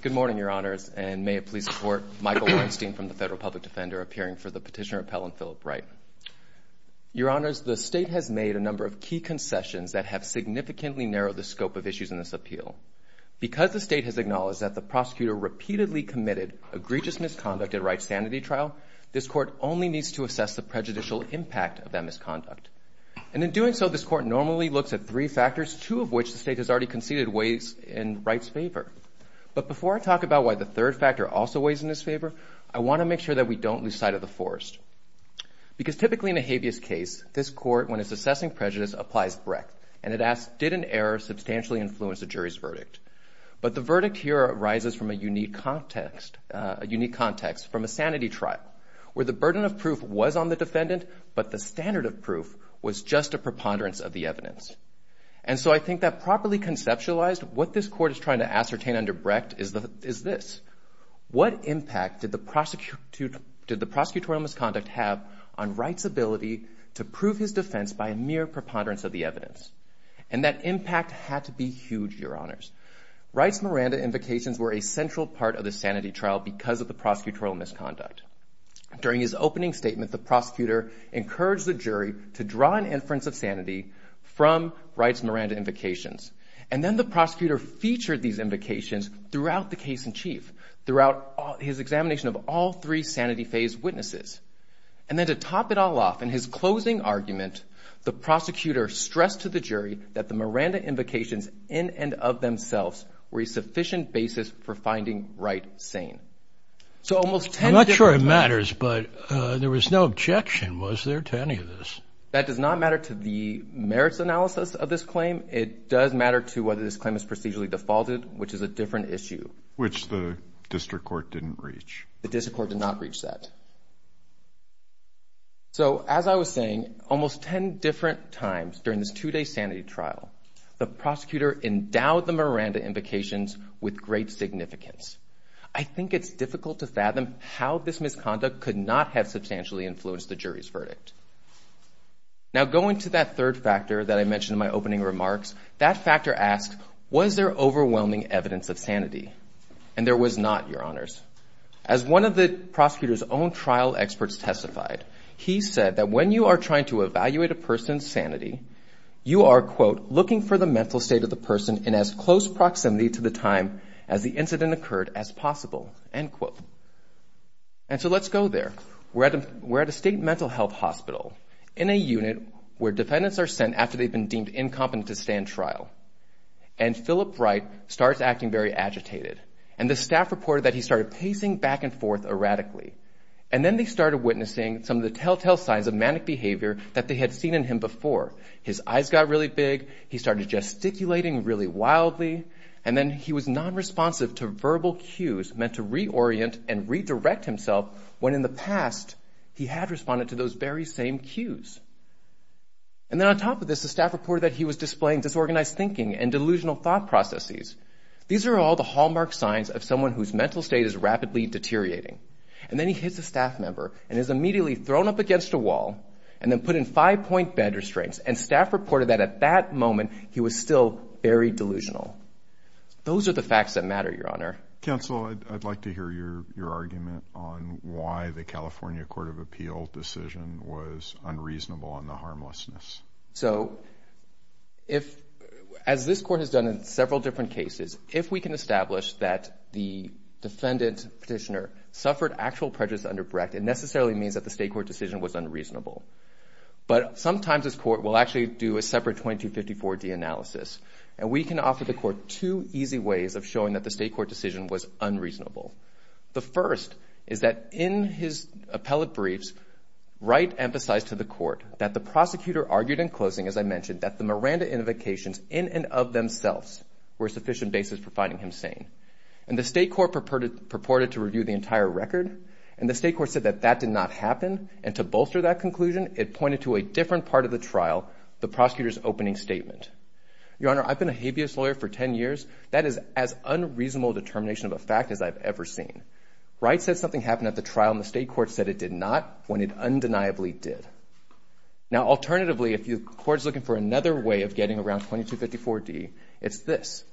Good morning, Your Honors, and may it please the Court, Michael Weinstein from the Federal Public Defender appearing for the Petitioner Appellant Philip Wright. Your Honors, the State has made a number of key concessions that have significantly narrowed the scope of issues in this appeal. Because the State has acknowledged that the prosecutor repeatedly committed egregious misconduct at a rights sanity trial, this Court only needs to assess the prejudicial impact of that misconduct. And in doing so, this Court normally looks at three factors, two of which the State has already conceded weighs in Wright's favor. But before I talk about why the third factor also weighs in his favor, I want to make sure that we don't lose sight of the force. Because typically in a habeas case, this Court, when it's assessing prejudice, applies breadth. And it asks, did an error substantially influence the jury's verdict? But the verdict here arises from a unique context, a unique context from a sanity trial, where the burden of proof was on the defendant, but the standard of proof was just a preponderance of the evidence. And so I think that properly conceptualized, what this Court is trying to ascertain under breadth is this. What impact did the prosecutorial misconduct have on Wright's ability to prove his defense by a mere preponderance of the evidence? And that impact had to be huge, Your Honors. Wright's Miranda invocations were a central part of the sanity trial because of the prosecutorial misconduct. During his opening statement, the prosecutor encouraged the jury to draw an inference of some Wright's Miranda invocations. And then the prosecutor featured these invocations throughout the case in chief, throughout his examination of all three sanity phase witnesses. And then to top it all off, in his closing argument, the prosecutor stressed to the jury that the Miranda invocations in and of themselves were a sufficient basis for finding Wright sane. I'm not sure it matters, but there was no objection, was there, to any of this? That does not matter to the merits analysis of this claim. It does matter to whether this claim is procedurally defaulted, which is a different issue. Which the district court didn't reach. The district court did not reach that. So as I was saying, almost 10 different times during this two-day sanity trial, the prosecutor endowed the Miranda invocations with great significance. I think it's difficult to fathom how this misconduct could not have substantially influenced the jury's verdict. Now going to that third factor that I mentioned in my opening remarks, that factor asks, was there overwhelming evidence of sanity? And there was not, Your Honors. As one of the prosecutor's own trial experts testified, he said that when you are trying to evaluate a person's sanity, you are, quote, looking for the mental state of the person in as close proximity to the time as the incident occurred as possible, end quote. And so let's go there. We're at a state mental health hospital in a unit where defendants are sent after they've been deemed incompetent to stay in trial. And Philip Wright starts acting very agitated. And the staff reported that he started pacing back and forth erratically. And then they started witnessing some of the telltale signs of manic behavior that they had seen in him before. His eyes got really big. He started gesticulating really wildly. And then he was nonresponsive to verbal cues meant to reorient and redirect himself when in the past, he had responded to those very same cues. And then on top of this, the staff reported that he was displaying disorganized thinking and delusional thought processes. These are all the hallmark signs of someone whose mental state is rapidly deteriorating. And then he hits a staff member and is immediately thrown up against a wall and then put in five-point bed restraints. And staff reported that at that moment, he was still very delusional. Those are the facts that matter, Your Honor. Counsel, I'd like to hear your argument on why the California Court of Appeal decision was unreasonable on the harmlessness. So as this court has done in several different cases, if we can establish that the defendant petitioner suffered actual prejudice under Brecht, it necessarily means that the state court decision was unreasonable. But sometimes this court will actually do a separate 2254-D analysis. And we can offer the court two easy ways of showing that the state court decision was unreasonable. The first is that in his appellate briefs, Wright emphasized to the court that the prosecutor argued in closing, as I mentioned, that the Miranda invocations in and of themselves were sufficient basis for finding him sane. And the state court purported to review the entire record. And the state court said that that did not happen. And to bolster that conclusion, it pointed to a different part of the trial, the prosecutor's opening statement. Your Honor, I've been a habeas lawyer for 10 years. That is as unreasonable a determination of a fact as I've ever seen. Wright said something happened at the trial, and the state court said it did not, when it undeniably did. Now alternatively, if the court is looking for another way of getting around 2254-D, it's this.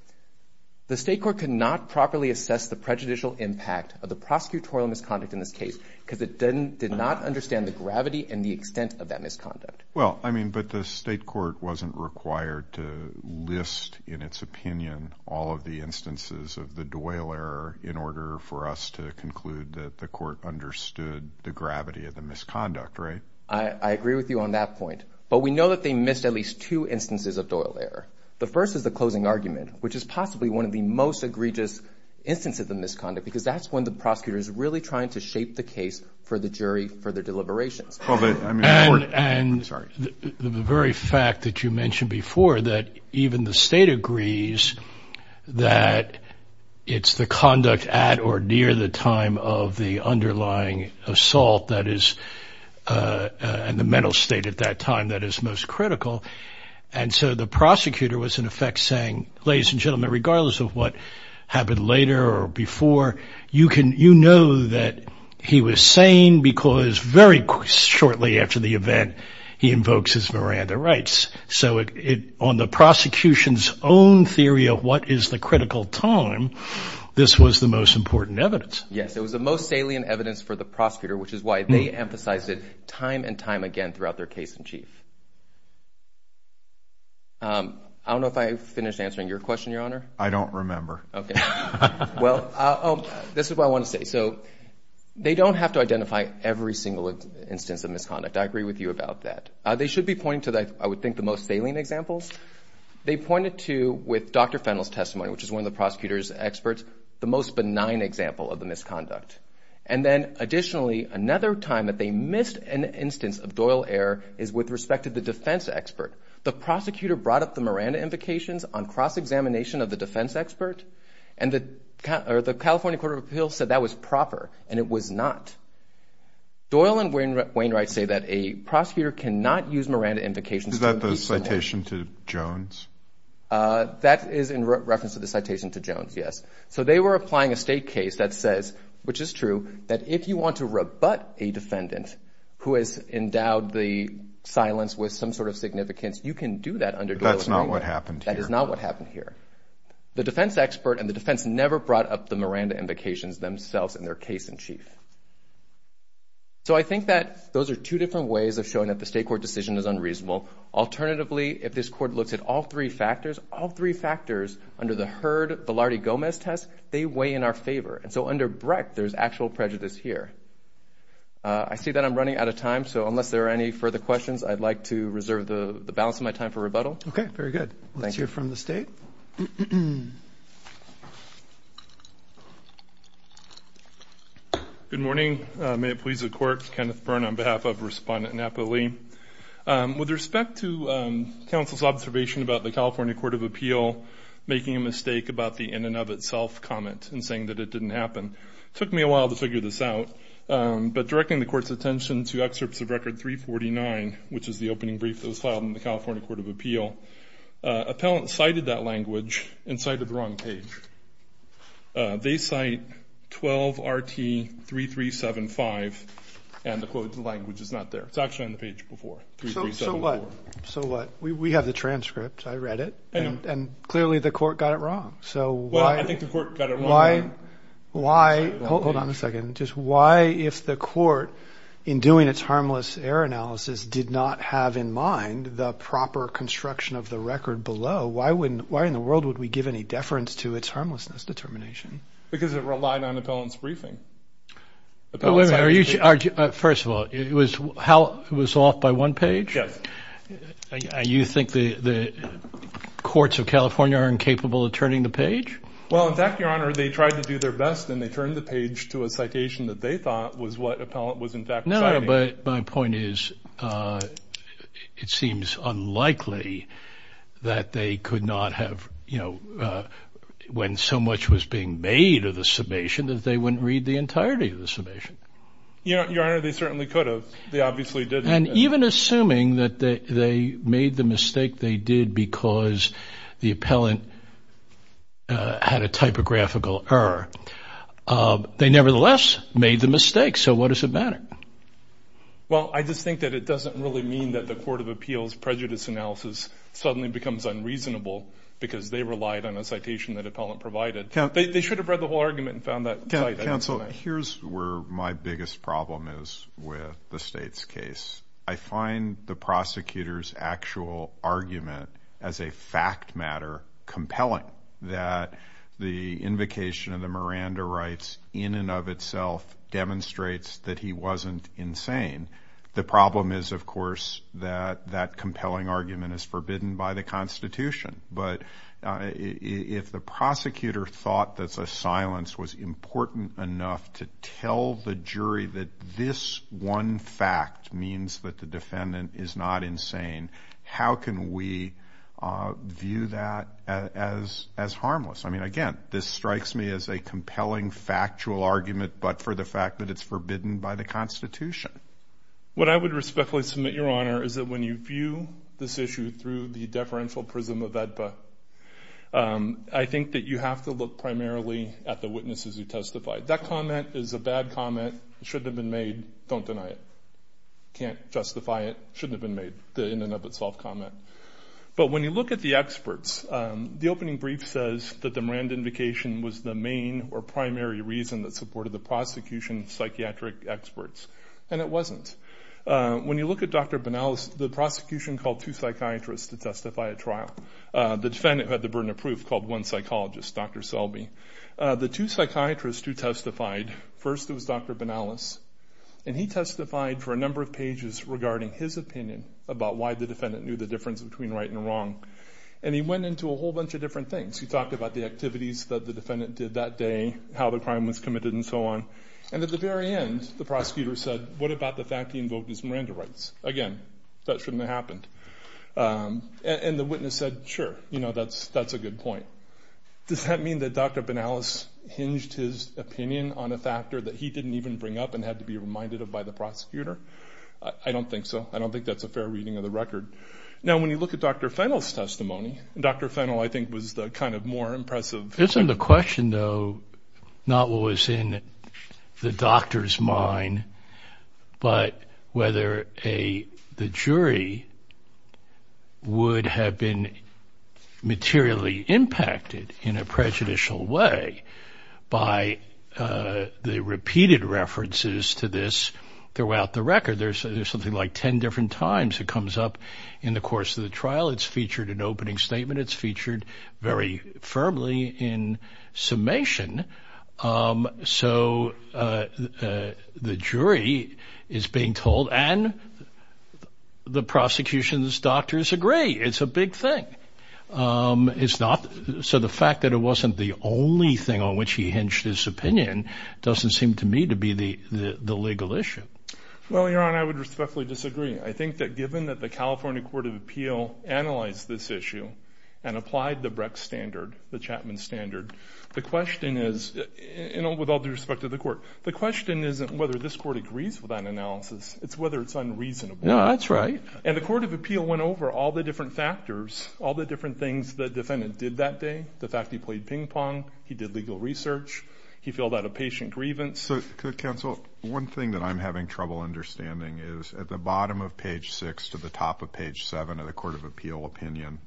The state court could not properly assess the prejudicial impact of the prosecutorial misconduct in this case, because it did not understand the gravity and the extent of that misconduct. Well, I mean, but the state court wasn't required to list in its opinion all of the instances of the Doyle error in order for us to conclude that the court understood the gravity of the misconduct, right? I agree with you on that point. But we know that they missed at least two instances of Doyle error. The first is the closing argument, which is possibly one of the most egregious instances of the misconduct, because that's when the prosecutor is really trying to shape the case for the jury for their deliberations. And the very fact that you mentioned before that even the state agrees that it's the conduct at or near the time of the underlying assault that is, and the mental state at that time that is most critical. And so the prosecutor was in effect saying, ladies and gentlemen, regardless of what happened later or before, you know that he was saying because very shortly after the event, he invokes his Miranda rights. So on the prosecution's own theory of what is the critical time, this was the most important evidence. Yes, it was the most salient evidence for the prosecutor, which is why they emphasized it time and time again throughout their case in chief. I don't know if I finished answering your question, Your Honor. I don't remember. Okay. Well, this is what I want to say. So they don't have to identify every single instance of misconduct. I agree with you about that. They should be pointing to, I would think, the most salient examples. They pointed to, with Dr. Fennell's testimony, which is one of the prosecutor's experts, the most benign example of the misconduct. And then additionally, another time that they missed an instance of doyle error is with respect to the defense expert. The prosecutor brought up the Miranda invocations on cross-examination of the defense expert, and the California Court of Appeals said that was proper, and it was not. Doyle and Wainwright say that a prosecutor cannot use Miranda invocations to impeach an offender. Is that the citation to Jones? That is in reference to the citation to Jones, yes. So they were applying a state case that says, which is true, that if you want to rebut a you can do that under Doyle and Wainwright. But that's not what happened here. That is not what happened here. The defense expert and the defense never brought up the Miranda invocations themselves in their case-in-chief. So I think that those are two different ways of showing that the state court decision is unreasonable. Alternatively, if this court looks at all three factors, all three factors under the Heard-Villardi-Gomez test, they weigh in our favor. And so under Brecht, there's actual prejudice here. I see that I'm running out of time, so unless there are any further questions, I'd like to reserve the balance of my time for rebuttal. Okay, very good. Let's hear from the state. Good morning. May it please the Court. Kenneth Byrne on behalf of Respondent Napoli. With respect to counsel's observation about the California Court of Appeal making a mistake about the in-and-of-itself comment and saying that it didn't happen, it took me a while to figure this out. But directing the Court's attention to excerpts of Record 349, which is the opening brief that was filed in the California Court of Appeal, appellants cited that language and cited the wrong page. They cite 12RT3375, and the quote, the language is not there. It's actually on the page before 3375. So what? We have the transcript. I read it. I know. And clearly, the Court got it wrong. So why? Well, I think the Court got it wrong. Why? Hold on a second. Hold on a second. Just why, if the Court, in doing its harmless error analysis, did not have in mind the proper construction of the record below, why in the world would we give any deference to its harmlessness determination? Because it relied on appellant's briefing. Wait a minute. First of all, it was off by one page? Yes. You think the courts of California are incapable of turning the page? Well, in fact, Your Honor, they tried to do their best, and they turned the page to a citation that they thought was what appellant was in fact citing. No, but my point is, it seems unlikely that they could not have, you know, when so much was being made of the summation, that they wouldn't read the entirety of the summation. Your Honor, they certainly could have. They obviously didn't. And even assuming that they made the mistake they did because the appellant had a typographical error, they nevertheless made the mistake. So what does it matter? Well, I just think that it doesn't really mean that the Court of Appeals' prejudice analysis suddenly becomes unreasonable because they relied on a citation that appellant provided. They should have read the whole argument and found that cite. Counsel, here's where my biggest problem is with the State's case. I find the prosecutor's actual argument as a fact matter compelling, that the invocation of the Miranda rights in and of itself demonstrates that he wasn't insane. The problem is, of course, that that compelling argument is forbidden by the Constitution. But if the prosecutor thought that the silence was important enough to tell the jury that this one fact means that the defendant is not insane, how can we view that as harmless? I mean, again, this strikes me as a compelling factual argument, but for the fact that it's forbidden by the Constitution. What I would respectfully submit, Your Honor, is that when you view this issue through the eyes of the HEDPA, I think that you have to look primarily at the witnesses who testified. That comment is a bad comment, it shouldn't have been made, don't deny it. Can't justify it, shouldn't have been made, the in and of itself comment. But when you look at the experts, the opening brief says that the Miranda invocation was the main or primary reason that supported the prosecution's psychiatric experts, and it wasn't. When you look at Dr. Banalas, the prosecution called two psychiatrists to testify at trial. The defendant, who had the burden of proof, called one psychologist, Dr. Selby. The two psychiatrists who testified, first it was Dr. Banalas, and he testified for a number of pages regarding his opinion about why the defendant knew the difference between right and wrong. And he went into a whole bunch of different things. He talked about the activities that the defendant did that day, how the crime was committed and so on. And at the very end, the prosecutor said, what about the fact he invoked his Miranda rights? Again, that shouldn't have happened. And the witness said, sure, you know, that's a good point. Does that mean that Dr. Banalas hinged his opinion on a factor that he didn't even bring up and had to be reminded of by the prosecutor? I don't think so. I don't think that's a fair reading of the record. Now when you look at Dr. Fennell's testimony, and Dr. Fennell, I think, was the kind of more impressive- It's in the question, though, not what was in the doctor's mind, but whether the jury would have been materially impacted in a prejudicial way by the repeated references to this throughout the record. There's something like 10 different times it comes up in the course of the trial. It's featured in opening statement. It's featured very firmly in summation. So the jury is being told, and the prosecution's doctors agree, it's a big thing. So the fact that it wasn't the only thing on which he hinged his opinion doesn't seem to me to be the legal issue. Well, Your Honor, I would respectfully disagree. I think that given that the California Court of Appeal analyzed this issue and applied the Brecht standard, the Chapman standard, the question is, and with all due respect to the court, the question isn't whether this court agrees with that analysis, it's whether it's unreasonable. No, that's right. And the Court of Appeal went over all the different factors, all the different things the defendant did that day, the fact he played ping pong, he did legal research, he filled out a patient grievance. So, Counsel, one thing that I'm having trouble understanding is at the bottom of page 6 to the top of page 7 of the Court of Appeal opinion,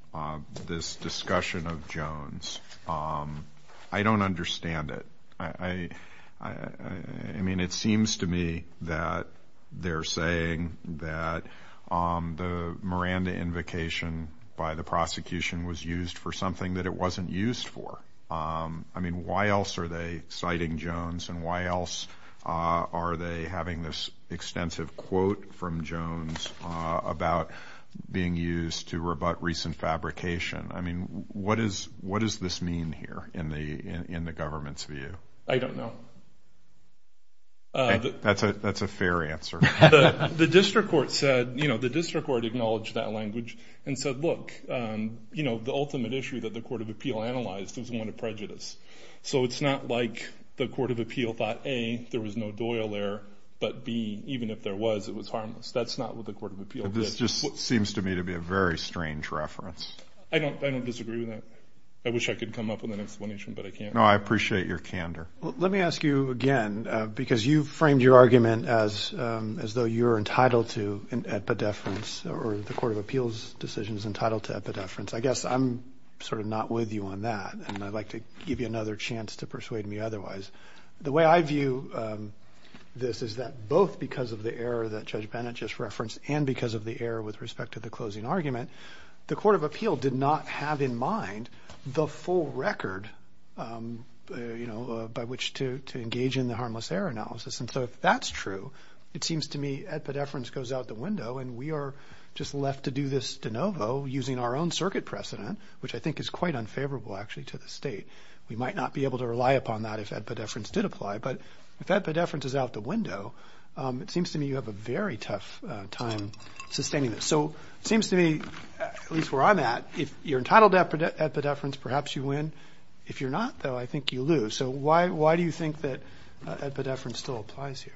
this discussion of Jones, I don't understand it. I mean, it seems to me that they're saying that the Miranda invocation by the prosecution was used for something that it wasn't used for. I mean, why else are they citing Jones and why else are they having this extensive quote from Jones about being used to rebut recent fabrication? I mean, what does this mean here in the government's view? I don't know. That's a fair answer. The district court said, you know, the district court acknowledged that language and said, look, you know, the ultimate issue that the Court of Appeal analyzed was one of prejudice. So it's not like the Court of Appeal thought, A, there was no Doyle there, but B, even if there was, it was harmless. That's not what the Court of Appeal did. But this just seems to me to be a very strange reference. I don't disagree with that. I wish I could come up with an explanation, but I can't. No, I appreciate your candor. Let me ask you again, because you framed your argument as though you're entitled to an I guess I'm sort of not with you on that, and I'd like to give you another chance to persuade me otherwise. The way I view this is that both because of the error that Judge Bennett just referenced and because of the error with respect to the closing argument, the Court of Appeal did not have in mind the full record, you know, by which to engage in the harmless error analysis. And so if that's true, it seems to me epidephrines goes out the window and we are just left to do this de novo using our own circuit precedent, which I think is quite unfavorable actually to the state. We might not be able to rely upon that if epidephrines did apply, but if epidephrines is out the window, it seems to me you have a very tough time sustaining this. So it seems to me, at least where I'm at, if you're entitled to epidephrines, perhaps you win. If you're not, though, I think you lose. So why do you think that epidephrines still applies here?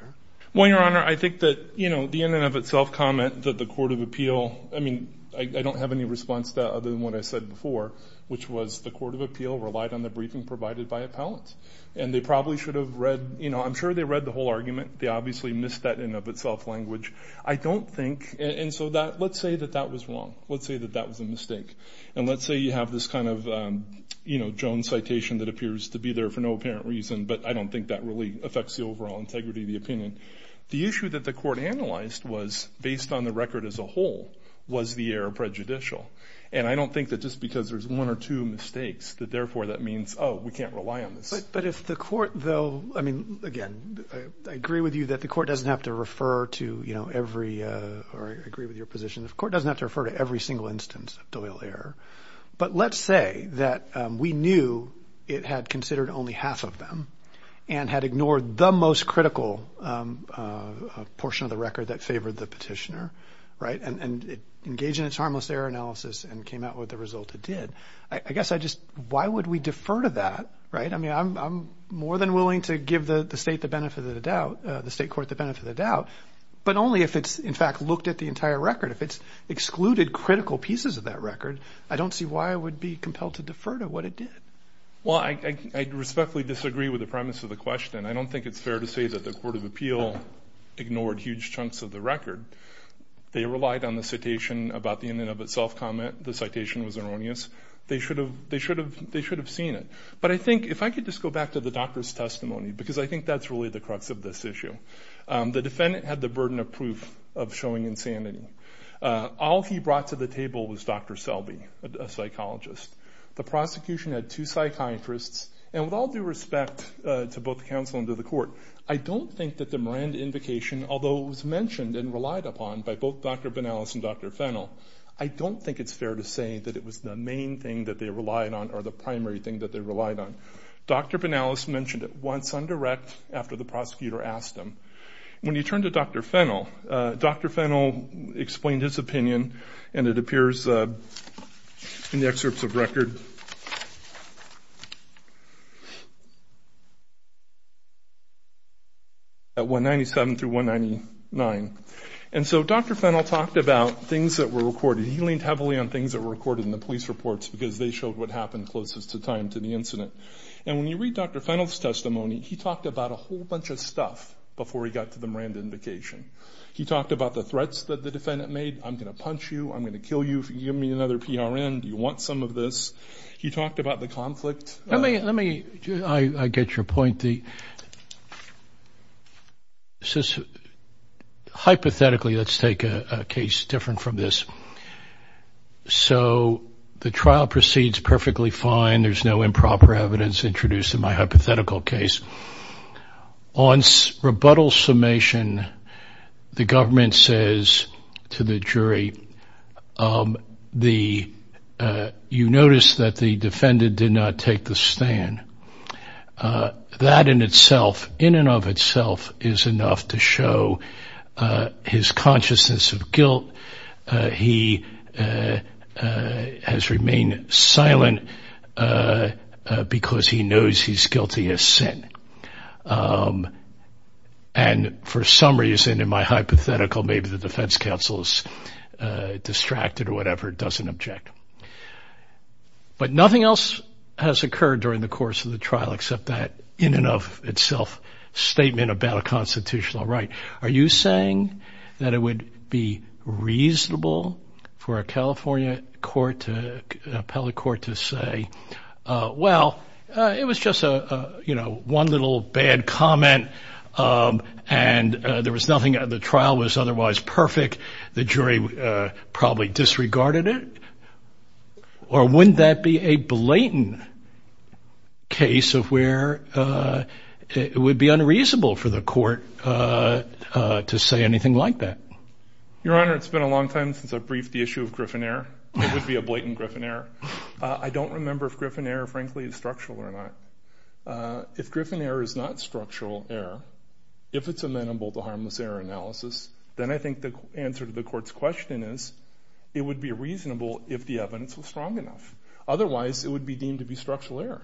Well, Your Honor, I think that, you know, the in and of itself comment that the Court of Appeal, I mean, I don't have any response to that other than what I said before, which was the Court of Appeal relied on the briefing provided by appellant. And they probably should have read, you know, I'm sure they read the whole argument. They obviously missed that in and of itself language. I don't think, and so that, let's say that that was wrong. Let's say that that was a mistake. And let's say you have this kind of, you know, Jones citation that appears to be there for no apparent reason, but I don't think that really affects the overall integrity of the opinion. The issue that the court analyzed was, based on the record as a whole, was the error prejudicial? And I don't think that just because there's one or two mistakes that therefore that means, oh, we can't rely on this. But if the court, though, I mean, again, I agree with you that the court doesn't have to refer to, you know, every, or I agree with your position, the court doesn't have to refer to every single instance of doyle error. But let's say that we knew it had considered only half of them and had ignored the most critical portion of the record that favored the petitioner, right, and it engaged in its harmless error analysis and came out with the result it did, I guess I just, why would we defer to that, right? I mean, I'm more than willing to give the state the benefit of the doubt, the state court the benefit of the doubt, but only if it's, in fact, looked at the entire record. If it's excluded critical pieces of that record, I don't see why I would be compelled to defer to what it did. Well, I respectfully disagree with the premise of the question. I don't think it's fair to say that the court of appeal ignored huge chunks of the record. They relied on the citation about the in and of itself comment, the citation was erroneous. They should have seen it. But I think, if I could just go back to the doctor's testimony, because I think that's really the crux of this issue, the defendant had the burden of proof of showing insanity. All he brought to the table was Dr. Selby, a psychologist. The prosecution had two psychiatrists, and with all due respect to both the counsel and to the court, I don't think that the Morand Invocation, although it was mentioned and relied upon by both Dr. Banalas and Dr. Fennell, I don't think it's fair to say that it was the main thing that they relied on or the primary thing that they relied on. Dr. Banalas mentioned it once on direct after the prosecutor asked him. When you turn to Dr. Fennell, Dr. Fennell explained his opinion, and it appears in the record at 197 through 199. And so Dr. Fennell talked about things that were recorded. He leaned heavily on things that were recorded in the police reports, because they showed what happened closest to time to the incident. And when you read Dr. Fennell's testimony, he talked about a whole bunch of stuff before he got to the Morand Invocation. He talked about the threats that the defendant made. I'm going to punch you. I'm going to kill you. If you give me another PRN. Do you want some of this? He talked about the conflict. Let me, let me, I get your point, the, hypothetically, let's take a case different from this. So the trial proceeds perfectly fine. There's no improper evidence introduced in my hypothetical case. On rebuttal summation, the government says to the jury, the, you notice that the defendant did not take the stand. That in itself, in and of itself, is enough to show his consciousness of guilt. He has remained silent because he knows he's guilty of sin. And for some reason, in my hypothetical, maybe the defense counsel is distracted or whatever. It doesn't object. But nothing else has occurred during the course of the trial, except that in and of itself statement about a constitutional right. Are you saying that it would be reasonable for a California court to, appellate court to say, well, it was just a, you know, one little bad comment. And there was nothing, the trial was otherwise perfect. The jury probably disregarded it. Or wouldn't that be a blatant case of where it would be unreasonable for the court to say anything like that? Your Honor, it's been a long time since I briefed the issue of Griffin error. It would be a blatant Griffin error. I don't remember if Griffin error, frankly, is structural or not. If Griffin error is not structural error, if it's amenable to harmless error analysis, then I think the answer to the court's question is, it would be reasonable if the evidence was strong enough. Otherwise, it would be deemed to be structural error.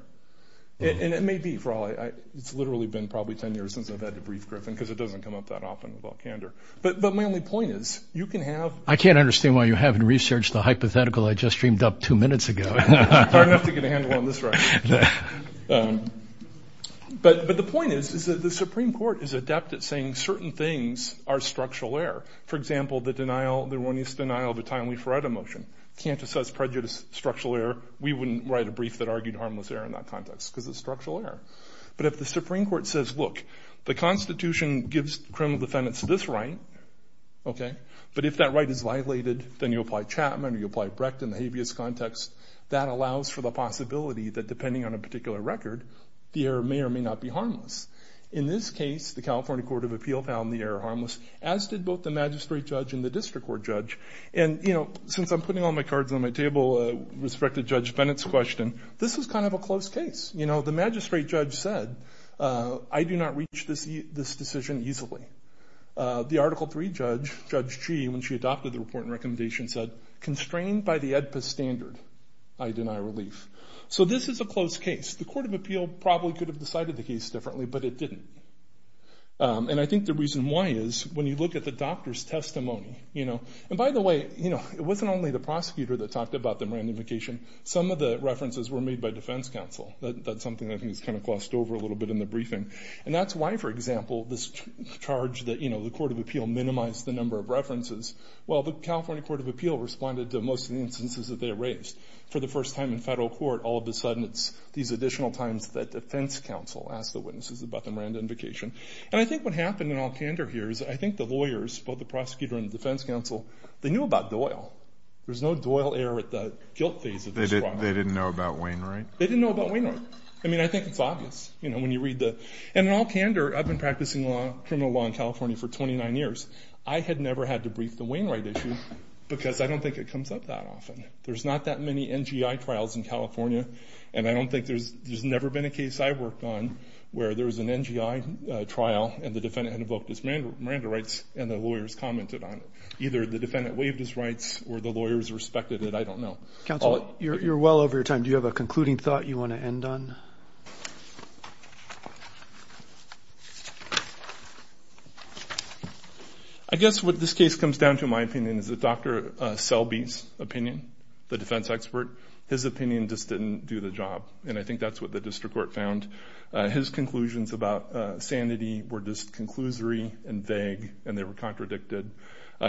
And it may be for all, it's literally been probably 10 years since I've had to brief Griffin because it doesn't come up that often with all candor. But my only point is, you can have- I can't understand why you haven't researched the hypothetical I just dreamed up two minutes ago. Hard enough to get a handle on this right now. But the point is, is that the Supreme Court is adept at saying certain things are structural error. For example, the denial, the erroneous denial of a timely FRETA motion. Can't assess prejudice, structural error. We wouldn't write a brief that argued harmless error in that context because it's structural error. But if the Supreme Court says, look, the Constitution gives criminal defendants this right, okay, but if that right is violated, then you apply Chapman or you apply Brecht in the habeas context, that allows for the possibility that depending on a particular record, the error may or may not be harmless. In this case, the California Court of Appeal found the error harmless, as did both the magistrate judge and the district court judge. And since I'm putting all my cards on my table, respect to Judge Bennett's question, this is kind of a close case. The magistrate judge said, I do not reach this decision easily. The Article 3 judge, Judge Gee, when she adopted the report and recommendation said, constrained by the AEDPA standard, I deny relief. So this is a close case. The Court of Appeal probably could have decided the case differently, but it didn't. And I think the reason why is when you look at the doctor's testimony, you know, and by the way, you know, it wasn't only the prosecutor that talked about the randomification. Some of the references were made by defense counsel. That's something that I think is kind of glossed over a little bit in the briefing. And that's why, for example, this charge that, you know, the Court of Appeal minimized the number of references. Well, the California Court of Appeal responded to most of the instances that they erased. For the first time in federal court, all of a sudden, it's these additional times that defense counsel asked the witnesses about the randomification. And I think what happened in all candor here is I think the lawyers, both the prosecutor and the defense counsel, they knew about Doyle. There was no Doyle error at the guilt phase of this trial. They didn't know about Wainwright? They didn't know about Wainwright. I mean, I think it's obvious, you know, when you read the... And in all candor, I've been practicing criminal law in California for 29 years. I had never had to brief the Wainwright issue because I don't think it comes up that often. There's not that many NGI trials in California. And I don't think there's... There's never been a case I've worked on where there was an NGI trial and the defendant had invoked his Miranda rights and the lawyers commented on it. Either the defendant waived his rights or the lawyers respected it. I don't know. Counsel, you're well over your time. Do you have a concluding thought you want to end on? I guess what this case comes down to, in my opinion, is that Dr. Selby's opinion, the defense expert, his opinion just didn't do the job. And I think that's what the district court found. His conclusions about sanity were just conclusory and vague and they were contradicted.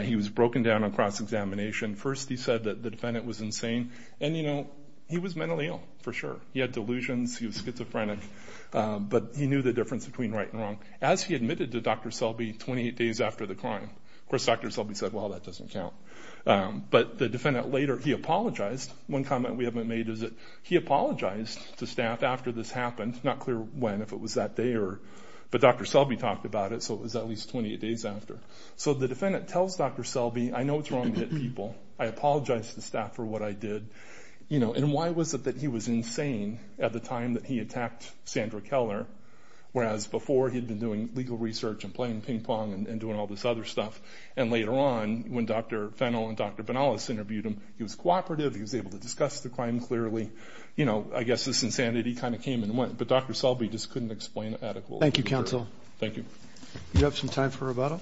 He was broken down on cross-examination. First, he said that the defendant was insane and, you know, he was mentally ill, for sure. He had delusions, he was schizophrenic, but he knew the difference between right and wrong. As he admitted to Dr. Selby 28 days after the crime, of course, Dr. Selby said, well, that doesn't count. But the defendant later, he apologized. One comment we haven't made is that he apologized to staff after this happened. Not clear when, if it was that day or... But Dr. Selby talked about it, so it was at least 28 days after. So the defendant tells Dr. Selby, I know it's wrong to hit people, I apologize to staff for what I did, you know, and why was it that he was insane at the time that he attacked Sandra Keller, whereas before he'd been doing legal research and playing ping pong and doing all this other stuff. And later on, when Dr. Fennell and Dr. Banalas interviewed him, he was cooperative, he was able to discuss the crime clearly. You know, I guess this insanity kind of came and went, but Dr. Selby just couldn't explain adequately. Thank you, counsel. Thank you. You have some time for rebuttal?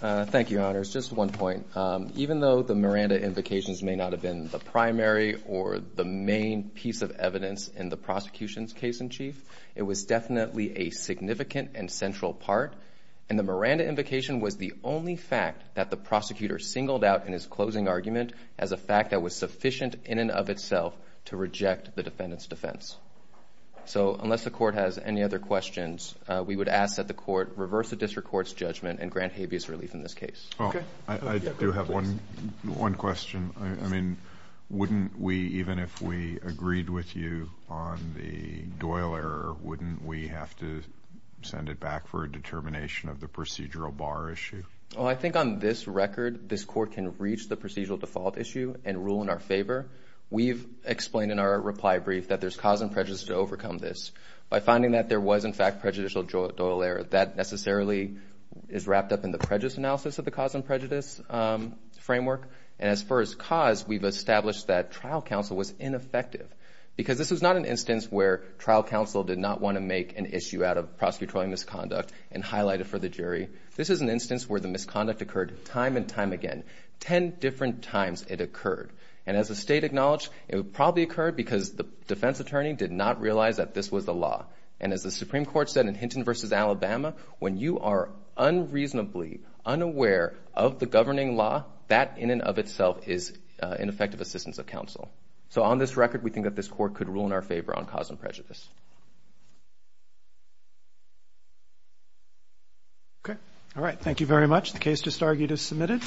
Thank you, Your Honors. Just one point. Even though the Miranda invocations may not have been the primary or the main piece of evidence in the prosecution's case in chief, it was definitely a significant and central part and the Miranda invocation was the only fact that the prosecutor singled out in his closing argument as a fact that was sufficient in and of itself to reject the defendant's defense. So, unless the court has any other questions, we would ask that the court reverse the district court's judgment and grant habeas relief in this case. Okay. I do have one question. I mean, wouldn't we, even if we agreed with you on the Doyle error, wouldn't we have to send it back for a determination of the procedural bar issue? Oh, I think on this record, this court can reach the procedural default issue and rule in our favor. We've explained in our reply brief that there's cause and prejudice to overcome this. By finding that there was, in fact, prejudicial Doyle error, that necessarily is wrapped up in the prejudice analysis of the cause and prejudice framework and as far as cause, we've established that trial counsel was ineffective because this was not an instance where trial counsel did not want to make an issue out of prosecutorial misconduct and highlight it for the jury. This is an instance where the misconduct occurred time and time again, ten different times it occurred. And as the state acknowledged, it probably occurred because the defense attorney did not realize that this was the law. And as the Supreme Court said in Hinton v. Alabama, when you are unreasonably unaware of the governing law, that in and of itself is ineffective assistance of counsel. So on this record, we think that this court could rule in our favor on cause and prejudice. Okay. All right. Thank you very much. The case just argued is submitted.